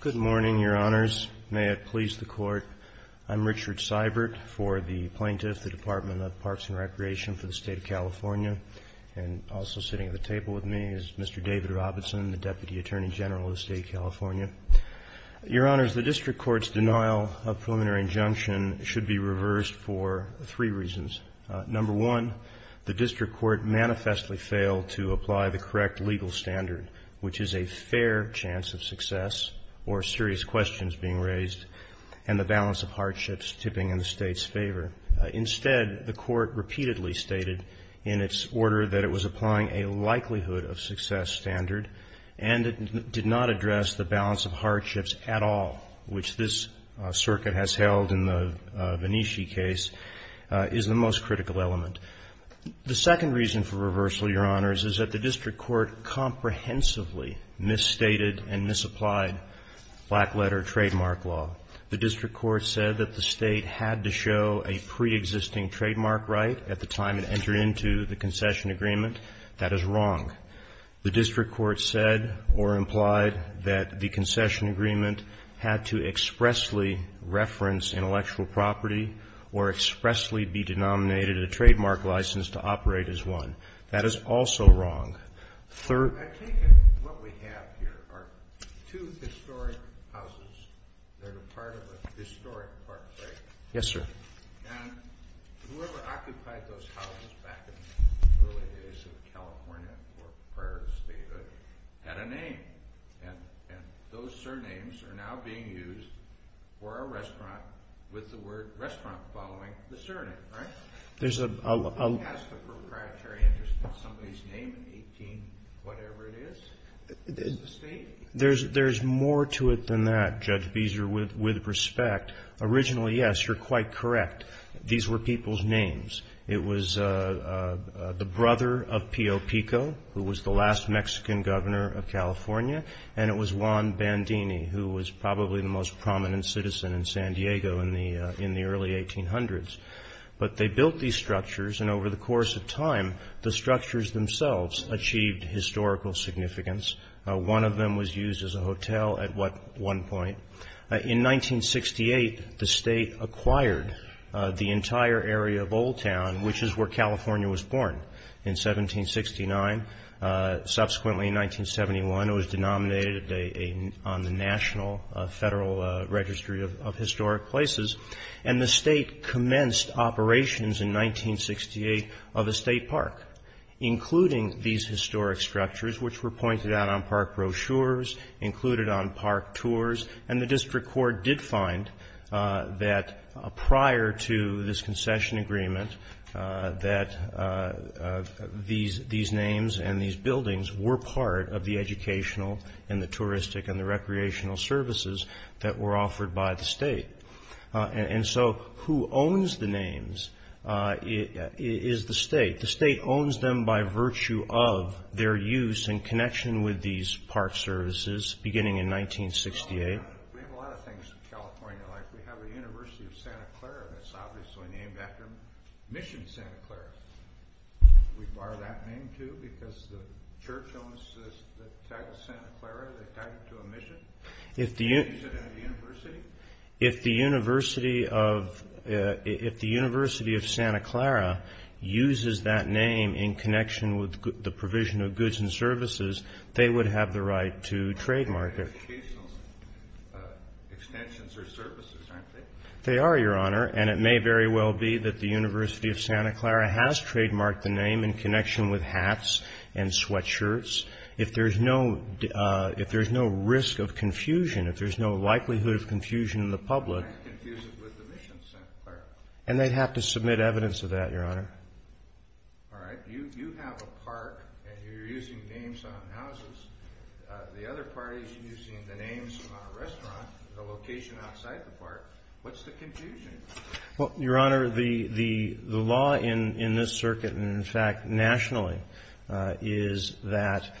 Good morning, Your Honors. May it please the Court, I'm Richard Seibert for the plaintiff, the Department of Parks and Recreation for the State of California, and also sitting at the table with me is Mr. David Robinson, the Deputy Attorney General of the State of California. Your Honors, the District Court's denial of preliminary injunction should be reversed for three reasons. Number one, the District Court manifestly failed to apply the correct legal standard, which is a fair chance of success or serious questions being raised and the balance of hardships tipping in the State's favor. Instead, the Court repeatedly stated in its order that it was applying a likelihood-of-success standard, and it did not address the balance of hardships at all, which this circuit has held in the Venetia case is the most critical element. The second reason for reversal, Your Honors, is that the District Court comprehensively misstated and misapplied black-letter trademark law. The District Court said that the State had to show a preexisting trademark right at the time it entered into the concession agreement. That is wrong. The District Court said or implied that the concession agreement had to expressly reference intellectual property or expressly be denominated a trademark license to operate as one. That is also wrong. I take it what we have here are two historic houses that are part of a historic park, right? Yes, sir. And whoever occupied those houses back in the early days of California or prior to statehood had a name, and those surnames are now being used for a restaurant with the word restaurant following the surname, right? Who has the proprietary interest in somebody's name, 18-whatever-it-is? There's more to it than that, Judge Beezer, with respect. Originally, yes, you're quite correct. These were people's names. It was the brother of Pio Pico, who was the last Mexican governor of California, and it was Juan Bandini, who was probably the most prominent citizen in San Diego in the early 1800s. But they built these structures, and over the course of time, the structures themselves achieved historical significance. One of them was used as a hotel at one point. In 1968, the State acquired the entire area of Old Town, which is where California was born in 1769. Subsequently, in 1971, it was denominated on the National Federal Registry of Historic Places. And the State commenced operations in 1968 of a state park, including these historic structures, which were pointed out on park brochures, included on park tours. And the district court did find that prior to this concession agreement that these names and these buildings were part of the educational and the touristic and the recreational services that were offered by the State. And so, who owns the names is the State. The State owns them by virtue of their use in connection with these park services, beginning in 1968. We have a lot of things in California. Like, we have the University of Santa Clara, and it's obviously named after Mission Santa Clara. We borrow that name, too, because the church owns the tag of Santa Clara. They tag it to a mission. If the University of Santa Clara uses that name in connection with the provision of goods and services, they would have the right to trademark it. They are educational extensions or services, aren't they? They are, Your Honor. And it may very well be that the University of Santa Clara has trademarked the name in connection with hats and sweatshirts. If there's no risk of confusion, if there's no likelihood of confusion in the public. And they'd have to submit evidence of that, Your Honor. All right. You have a park, and you're using names on houses. The other party is using the names on a restaurant, a location outside the park. What's the confusion? Well, Your Honor, the law in this circuit, and in fact nationally, is that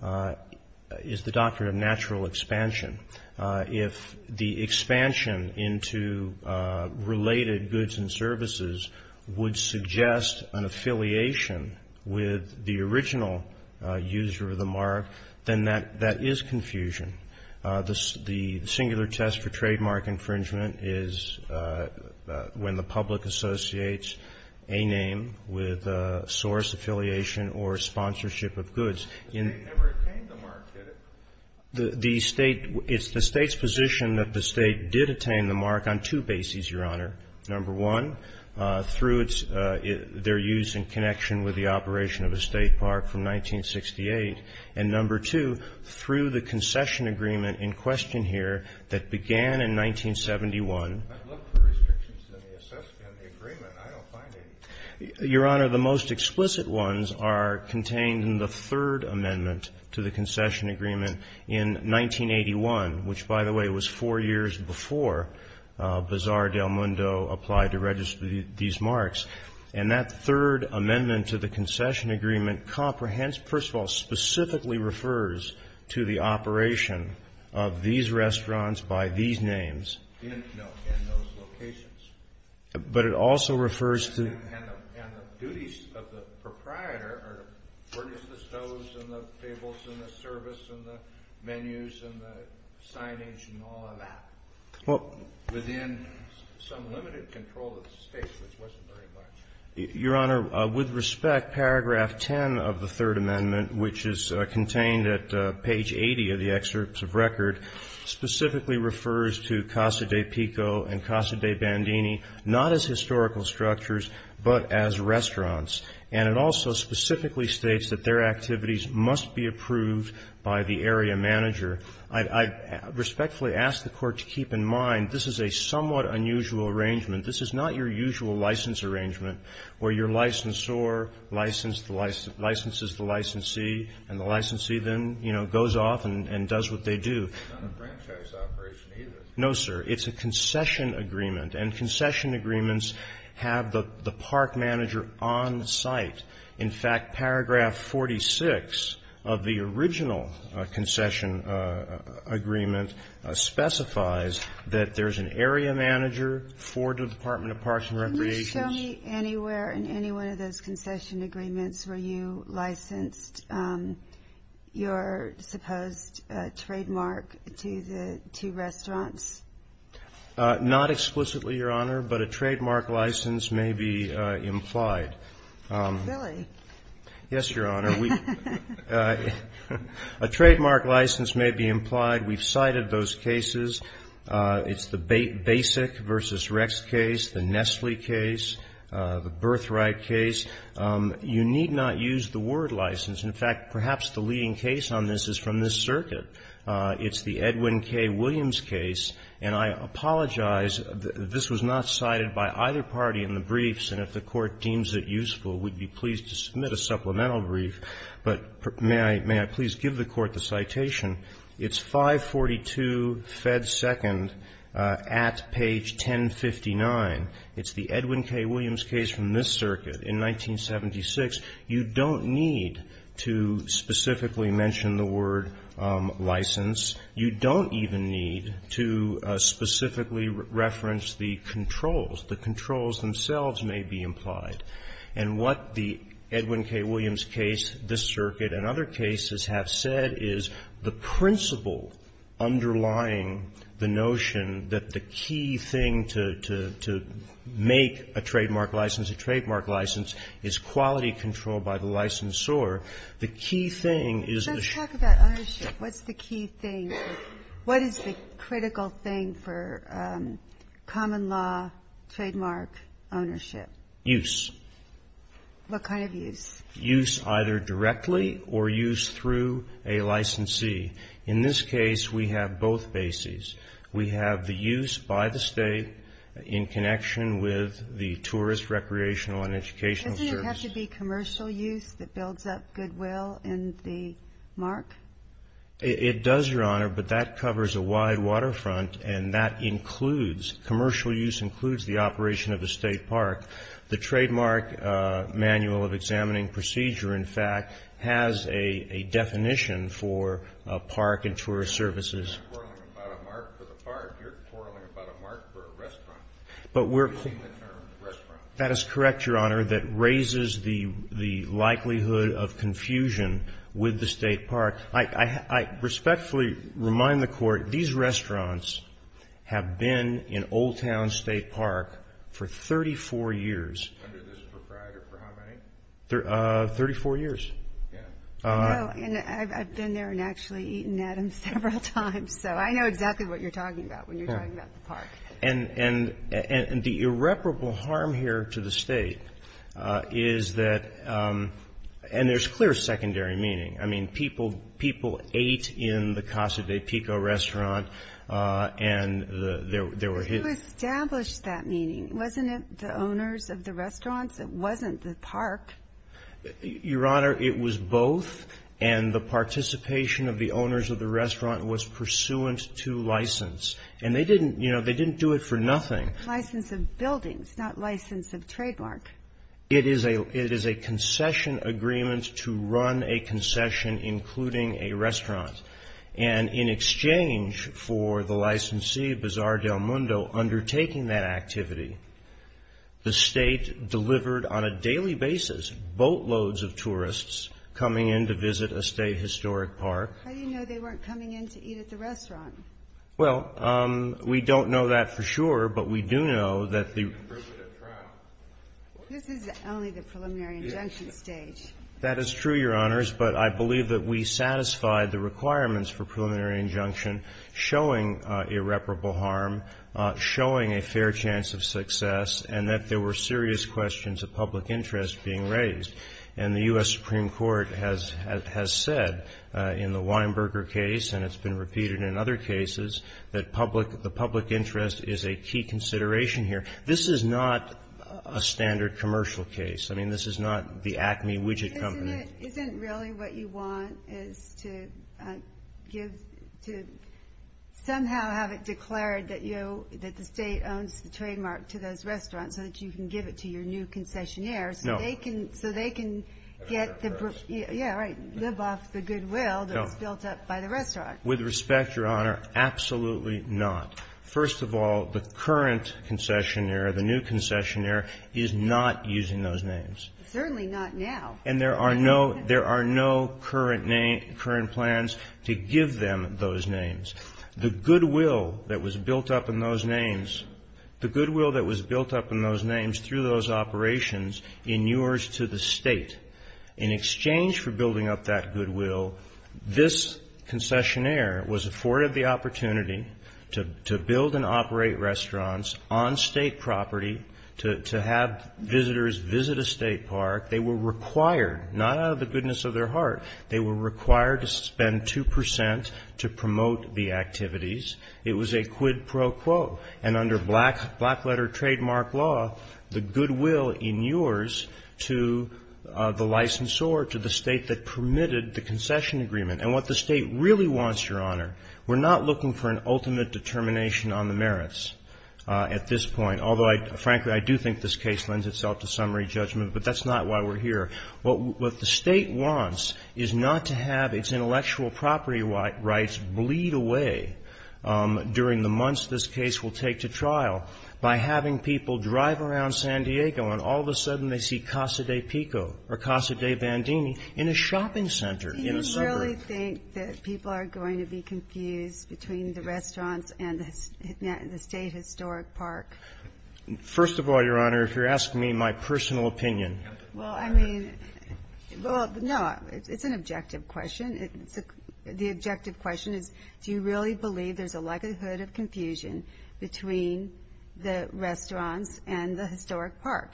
the doctrine of natural expansion. If the expansion into related goods and services would suggest an affiliation with the original user of the mark, then that is confusion. The singular test for trademark infringement is when the public associates a name with source affiliation or sponsorship of goods. They never obtained the mark, did it? It's the State's position that the State did obtain the mark on two bases, Your Honor. Number one, through their use in connection with the operation of a state park from 1968. And number two, through the concession agreement in question here that began in 1971. I looked for restrictions in the agreement. I don't find any. Your Honor, the most explicit ones are contained in the third amendment to the concession agreement in 1981, which, by the way, was four years before Bazar del Mundo applied to register these marks. And that third amendment to the concession agreement comprehends, first of all, specifically refers to the operation of these restaurants by these names. No, in those locations. But it also refers to the — And the duties of the proprietor are to furnish the stoves and the tables and the service and the menus and the signage and all of that. Well, within some limited control of the State, which wasn't very much. Your Honor, with respect, paragraph 10 of the third amendment, which is contained at page 80 of the excerpts of record, specifically refers to Casa de Pico and Casa de Bandini not as historical structures but as restaurants. And it also specifically states that their activities must be approved by the area manager. I respectfully ask the Court to keep in mind this is a somewhat unusual arrangement. This is not your usual license arrangement where your licensor licenses the licensee and the licensee then, you know, goes off and does what they do. No, sir. It's a concession agreement, and concession agreements have the park manager on site. In fact, paragraph 46 of the original concession agreement specifies that there's an area manager for the Department of Parks and Recreation. Can you show me anywhere in any one of those concession agreements where you licensed your supposed trademark to the two restaurants? Not explicitly, Your Honor, but a trademark license may be implied. Really? Yes, Your Honor. A trademark license may be implied. We've cited those cases. It's the Basic v. Rex case, the Nestle case, the Birthright case. You need not use the word license. In fact, perhaps the leading case on this is from this circuit. It's the Edwin K. Williams case. And I apologize, this was not cited by either party in the briefs. And if the Court deems it useful, we'd be pleased to submit a supplemental brief. But may I please give the Court the citation? It's 542 Fed 2nd at page 1059. It's the Edwin K. Williams case from this circuit in 1976. You don't need to specifically mention the word license. You don't even need to specifically reference the controls. The controls themselves may be implied. And what the Edwin K. Williams case, this circuit, and other cases have said is the principle underlying the notion that the key thing to make a trademark license, a trademark license, is quality control by the licensor. The key thing is the ---- Let's talk about ownership. What's the key thing? What is the critical thing for common law trademark ownership? Use. What kind of use? Use either directly or use through a licensee. In this case, we have both bases. We have the use by the State in connection with the Tourist Recreational and Educational Service. Doesn't it have to be commercial use that builds up goodwill in the mark? It does, Your Honor, but that covers a wide waterfront, and that includes, commercial use includes the operation of a State park. The Trademark Manual of Examining Procedure, in fact, has a definition for a park and tourist services. You're not quarreling about a mark for the park. You're quarreling about a mark for a restaurant. But we're ---- You're using the term restaurant. That is correct, Your Honor. the likelihood of confusion with the State park. I respectfully remind the Court, these restaurants have been in Old Town State Park for 34 years. Under this proprietor for how many? Thirty-four years. Yeah. Oh, and I've been there and actually eaten at them several times, so I know exactly what you're talking about when you're talking about the park. And the irreparable harm here to the State is that ---- and there's clear secondary meaning. I mean, people ate in the Casa de Pico restaurant, and there were ---- You established that meaning. Wasn't it the owners of the restaurants? It wasn't the park. Your Honor, it was both, and the participation of the owners of the restaurant was pursuant to license. And they didn't, you know, they didn't do it for nothing. License of buildings, not license of trademark. It is a concession agreement to run a concession including a restaurant. And in exchange for the licensee, Bazaar del Mundo, undertaking that activity, the State delivered on a daily basis boatloads of tourists coming in to visit a State historic park. How do you know they weren't coming in to eat at the restaurant? Well, we don't know that for sure, but we do know that the ---- This is only the preliminary injunction stage. That is true, Your Honors, but I believe that we satisfied the requirements for preliminary injunction showing irreparable harm, showing a fair chance of success, and that there were serious questions of public interest being raised. And the U.S. Supreme Court has said in the Weinberger case, and it's been repeated in other cases, that the public interest is a key consideration here. This is not a standard commercial case. I mean, this is not the Acme widget company. Isn't it really what you want is to give, to somehow have it declared that, you know, that the State owns the trademark to those restaurants so that you can give it to your new concessionaires? No. So they can get the ---- Yeah, right, live off the goodwill that was built up by the restaurant. With respect, Your Honor, absolutely not. First of all, the current concessionaire, the new concessionaire, is not using those names. Certainly not now. And there are no ---- there are no current name ---- current plans to give them those names. The goodwill that was built up in those names, the goodwill that was built up in those names through those operations in yours to the State, in exchange for building up that goodwill, this concessionaire was afforded the opportunity to build and operate restaurants on State property, to have visitors visit a State park. They were required, not out of the goodness of their heart, they were required to spend 2 percent to promote the activities. It was a quid pro quo. And under black letter trademark law, the goodwill in yours to the licensor, to the State that permitted the concession agreement. And what the State really wants, Your Honor, we're not looking for an ultimate determination on the merits at this point. Although, frankly, I do think this case lends itself to summary judgment. But that's not why we're here. What the State wants is not to have its intellectual property rights bleed away during the months this case will take to trial by having people drive around San Diego and all of a sudden they see Casa de Pico or Casa de Bandini in a shopping center in a suburb. Do you really think that people are going to be confused between the restaurants and the State Historic Park? First of all, Your Honor, if you're asking me my personal opinion. Well, I mean, well, no. It's an objective question. The objective question is do you really believe there's a likelihood of confusion between the restaurants and the Historic Park?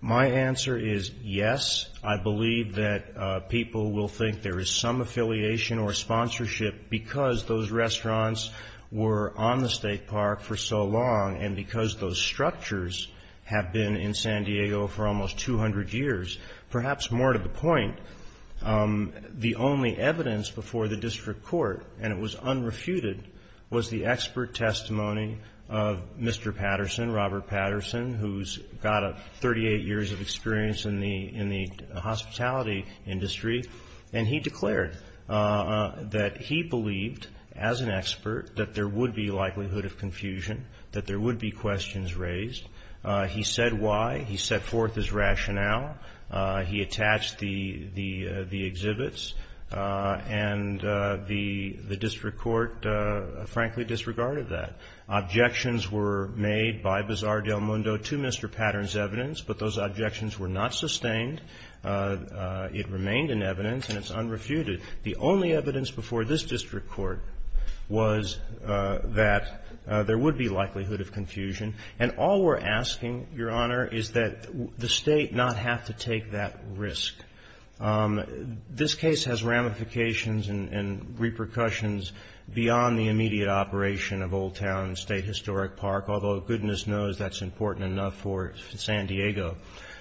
My answer is yes. I believe that people will think there is some affiliation or sponsorship because those restaurants were on the State Park for so long and because those structures have been in San Diego for almost 200 years. Perhaps more to the point, the only evidence before the district court, and it was unrefuted, was the expert testimony of Mr. Patterson, Robert Patterson, who's got 38 years of experience in the hospitality industry. And he declared that he believed, as an expert, that there would be likelihood of confusion, that there would be questions raised. He said why. He set forth his rationale. He attached the exhibits. And the district court, frankly, disregarded that. Objections were made by Bazar del Mundo to Mr. Patterson's evidence, but those objections were not sustained. It remained in evidence, and it's unrefuted. The only evidence before this district court was that there would be likelihood of confusion. And all we're asking, Your Honor, is that the State not have to take that risk. This case has ramifications and repercussions beyond the immediate operation of Old Town State Historic Park, although goodness knows that's important enough for San Diego.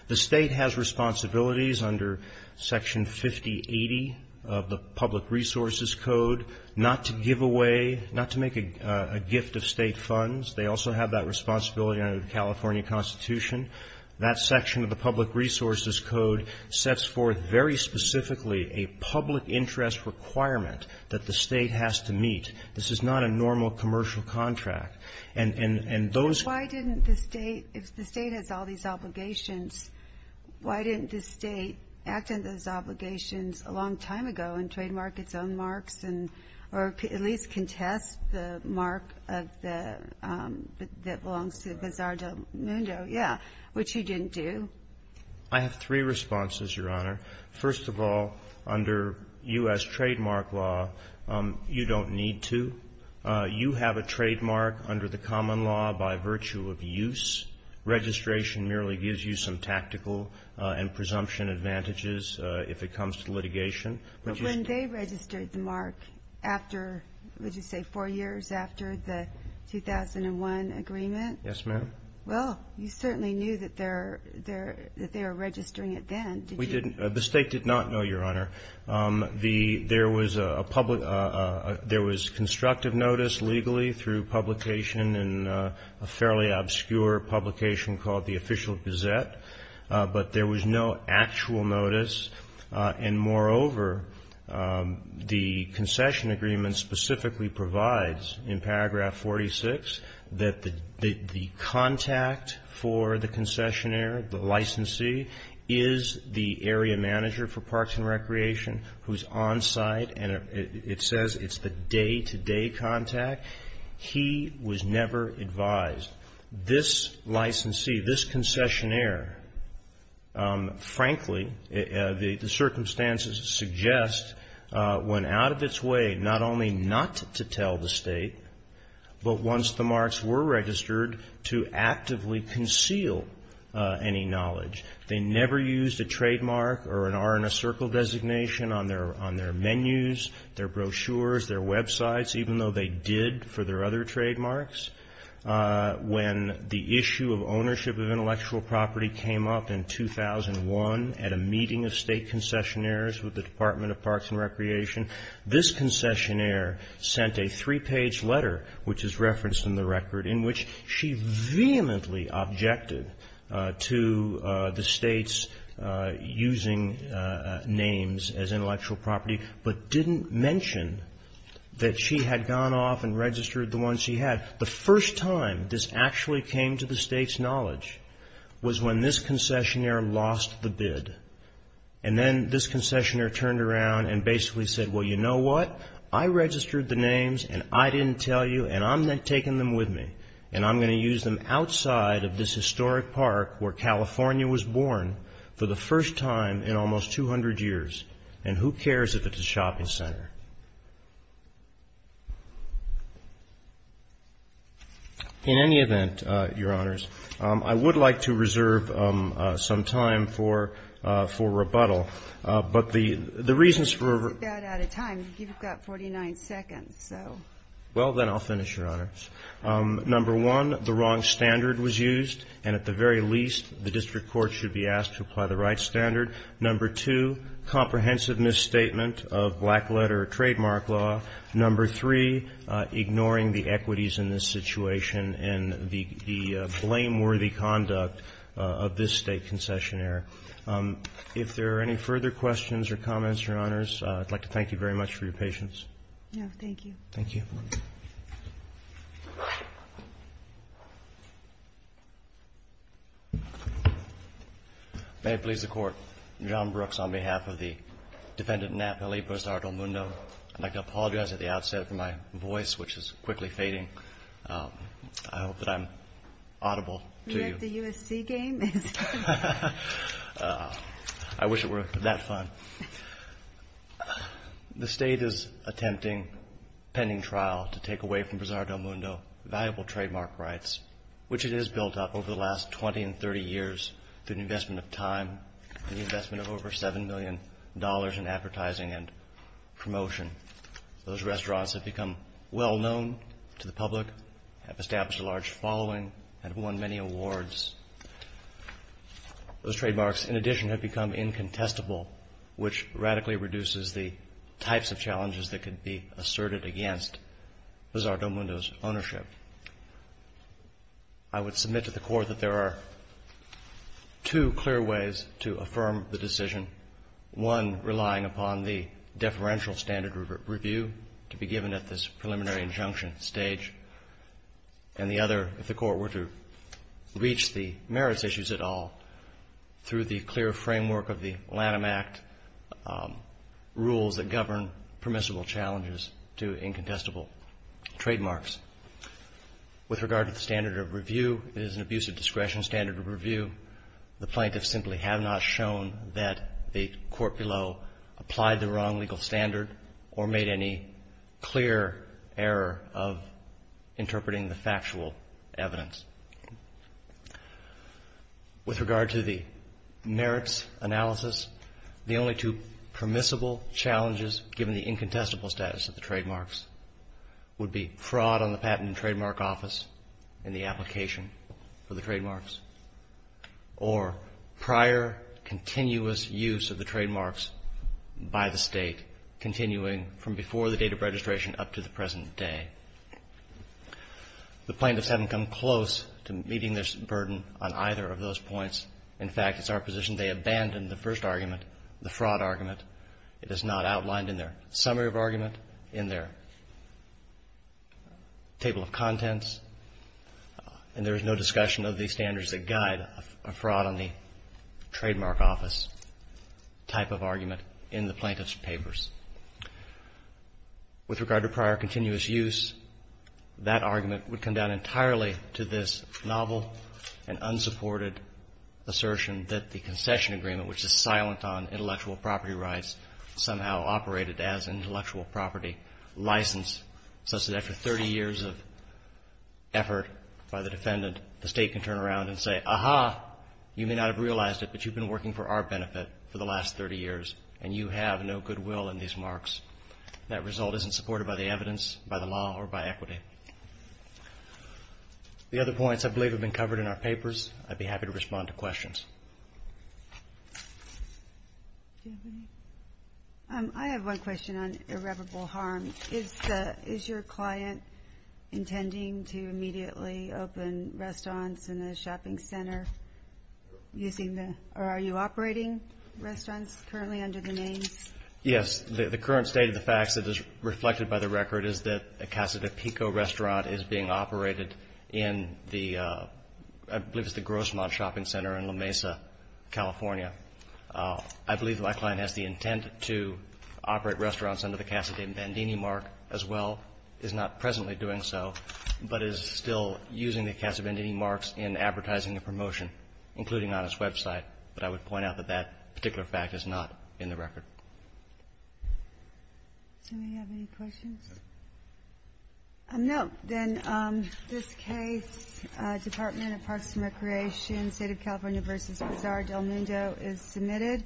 The State has responsibilities under Section 5080 of the Public Resources Code not to give away, not to make a gift of State funds. They also have that responsibility under the California Constitution. That section of the Public Resources Code sets forth very specifically a public interest requirement that the State has to meet. This is not a normal commercial contract. And those ---- But why didn't the State, if the State has all these obligations, why didn't the State act on those obligations a long time ago and trademark its own marks and at least contest the mark of the ---- that belongs to the Bazaar del Mundo? Yeah. Which you didn't do. I have three responses, Your Honor. First of all, under U.S. trademark law, you don't need to. You have a trademark under the common law by virtue of use. Registration merely gives you some tactical and presumption advantages if it comes to litigation. But when they registered the mark after, would you say, four years after the 2001 agreement? Yes, ma'am. Well, you certainly knew that they were registering it then, didn't you? We didn't. The State did not know, Your Honor. There was a public ---- there was constructive notice legally through publication in a fairly obscure publication called the Official Gazette. But there was no actual notice. And moreover, the concession agreement specifically provides in paragraph 46 that the contact for the concessionaire, the licensee, is the area manager for Parks and Recreation who is on site, and it says it's the day-to-day contact. He was never advised. This licensee, this concessionaire, frankly, the circumstances suggest went out of its way not only not to tell the State, but once the marks were registered, to actively conceal any knowledge. They never used a trademark or an R in a circle designation on their menus, their brochures, their websites, even though they did for their other trademarks. When the issue of ownership of intellectual property came up in 2001 at a meeting of State concessionaires with the Department of Parks and Recreation, this concessionaire sent a three-page letter which is referenced in the record in which she vehemently objected to the State's using names as intellectual property, but didn't mention that she had gone off and registered the ones she had. The first time this actually came to the State's knowledge was when this concessionaire lost the bid, and then this concessionaire turned around and basically said, well, you know what? I registered the names, and I didn't tell you, and I'm taking them with me, and I'm going to use them outside of this historic park where California was born for the first time in almost 200 years. And who cares if it's a shopping center? In any event, Your Honors, I would like to reserve some time for rebuttal. But the reasons for ---- It's about out of time. You've got 49 seconds, so. Well, then I'll finish, Your Honors. Number one, the wrong standard was used, and at the very least, the district court should be asked to apply the right standard. Number two, comprehensive misstatement of black letter or trademark law. Number three, ignoring the equities in this situation and the blameworthy conduct of this State concessionaire. If there are any further questions or comments, Your Honors, I'd like to thank you very much for your patience. No, thank you. Thank you. Thank you. May it please the Court, John Brooks on behalf of the defendant Napoli Bustardo Mundo. I'd like to apologize at the outset for my voice, which is quickly fading. I hope that I'm audible to you. You like the USC game? I wish it were that fun. The State is attempting pending trial to take away from Bustardo Mundo valuable trademark rights, which it has built up over the last 20 and 30 years through the investment of time and the investment of over $7 million in advertising and promotion. Those restaurants have become well-known to the public, have established a large following, and have won many awards. Those trademarks, in addition, have become incontestable, which radically reduces the types of challenges that could be asserted against Bustardo Mundo's ownership. I would submit to the Court that there are two clear ways to affirm the decision, one relying upon the deferential standard review to be given at this preliminary injunction stage, and the other, if the Court were to reach the merits issues at all, through the clear framework of the Lanham Act rules that govern permissible challenges to incontestable trademarks. With regard to the standard of review, it is an abuse of discretion standard of review. The plaintiffs simply have not shown that the court below applied the wrong legal standard or made any clear error of interpreting the factual evidence. With regard to the merits analysis, the only two permissible challenges given the incontestable status of the trademarks would be fraud on the patent and trademark office in the application for the trademarks or prior continuous use of the trademark office, continuing from before the date of registration up to the present day. The plaintiffs haven't come close to meeting this burden on either of those points. In fact, it's our position they abandoned the first argument, the fraud argument. It is not outlined in their summary of argument, in their table of contents, and there is no discussion of the standards that guide a fraud on the trademark office type of argument in the plaintiff's papers. With regard to prior continuous use, that argument would come down entirely to this novel and unsupported assertion that the concession agreement, which is silent on intellectual property rights, somehow operated as an intellectual property license such that after 30 years of effort by the defendant, the State can turn around and say, aha, you may not have realized it, but you've been working for our benefit for the last 30 years and you have no goodwill in these marks. That result isn't supported by the evidence, by the law, or by equity. The other points, I believe, have been covered in our papers. I'd be happy to respond to questions. I have one question on irreparable harm. Is your client intending to immediately open restaurants in the shopping center using the, or are you operating restaurants currently under the names? Yes. The current state of the facts that is reflected by the record is that a Casa de Pico restaurant is being operated in the, I believe it's the Grossmont Shopping Center in La Mesa, California. I believe that my client has the intent to operate restaurants under the Casa de Bandini mark as well, is not presently doing so, but is still using the Casa de Bandini marks in advertising and promotion, including on its website. But I would point out that that particular fact is not in the record. Do we have any questions? No. Then this case, Department of Parks and Recreation, State of California v. Pizarro del Nino is submitted.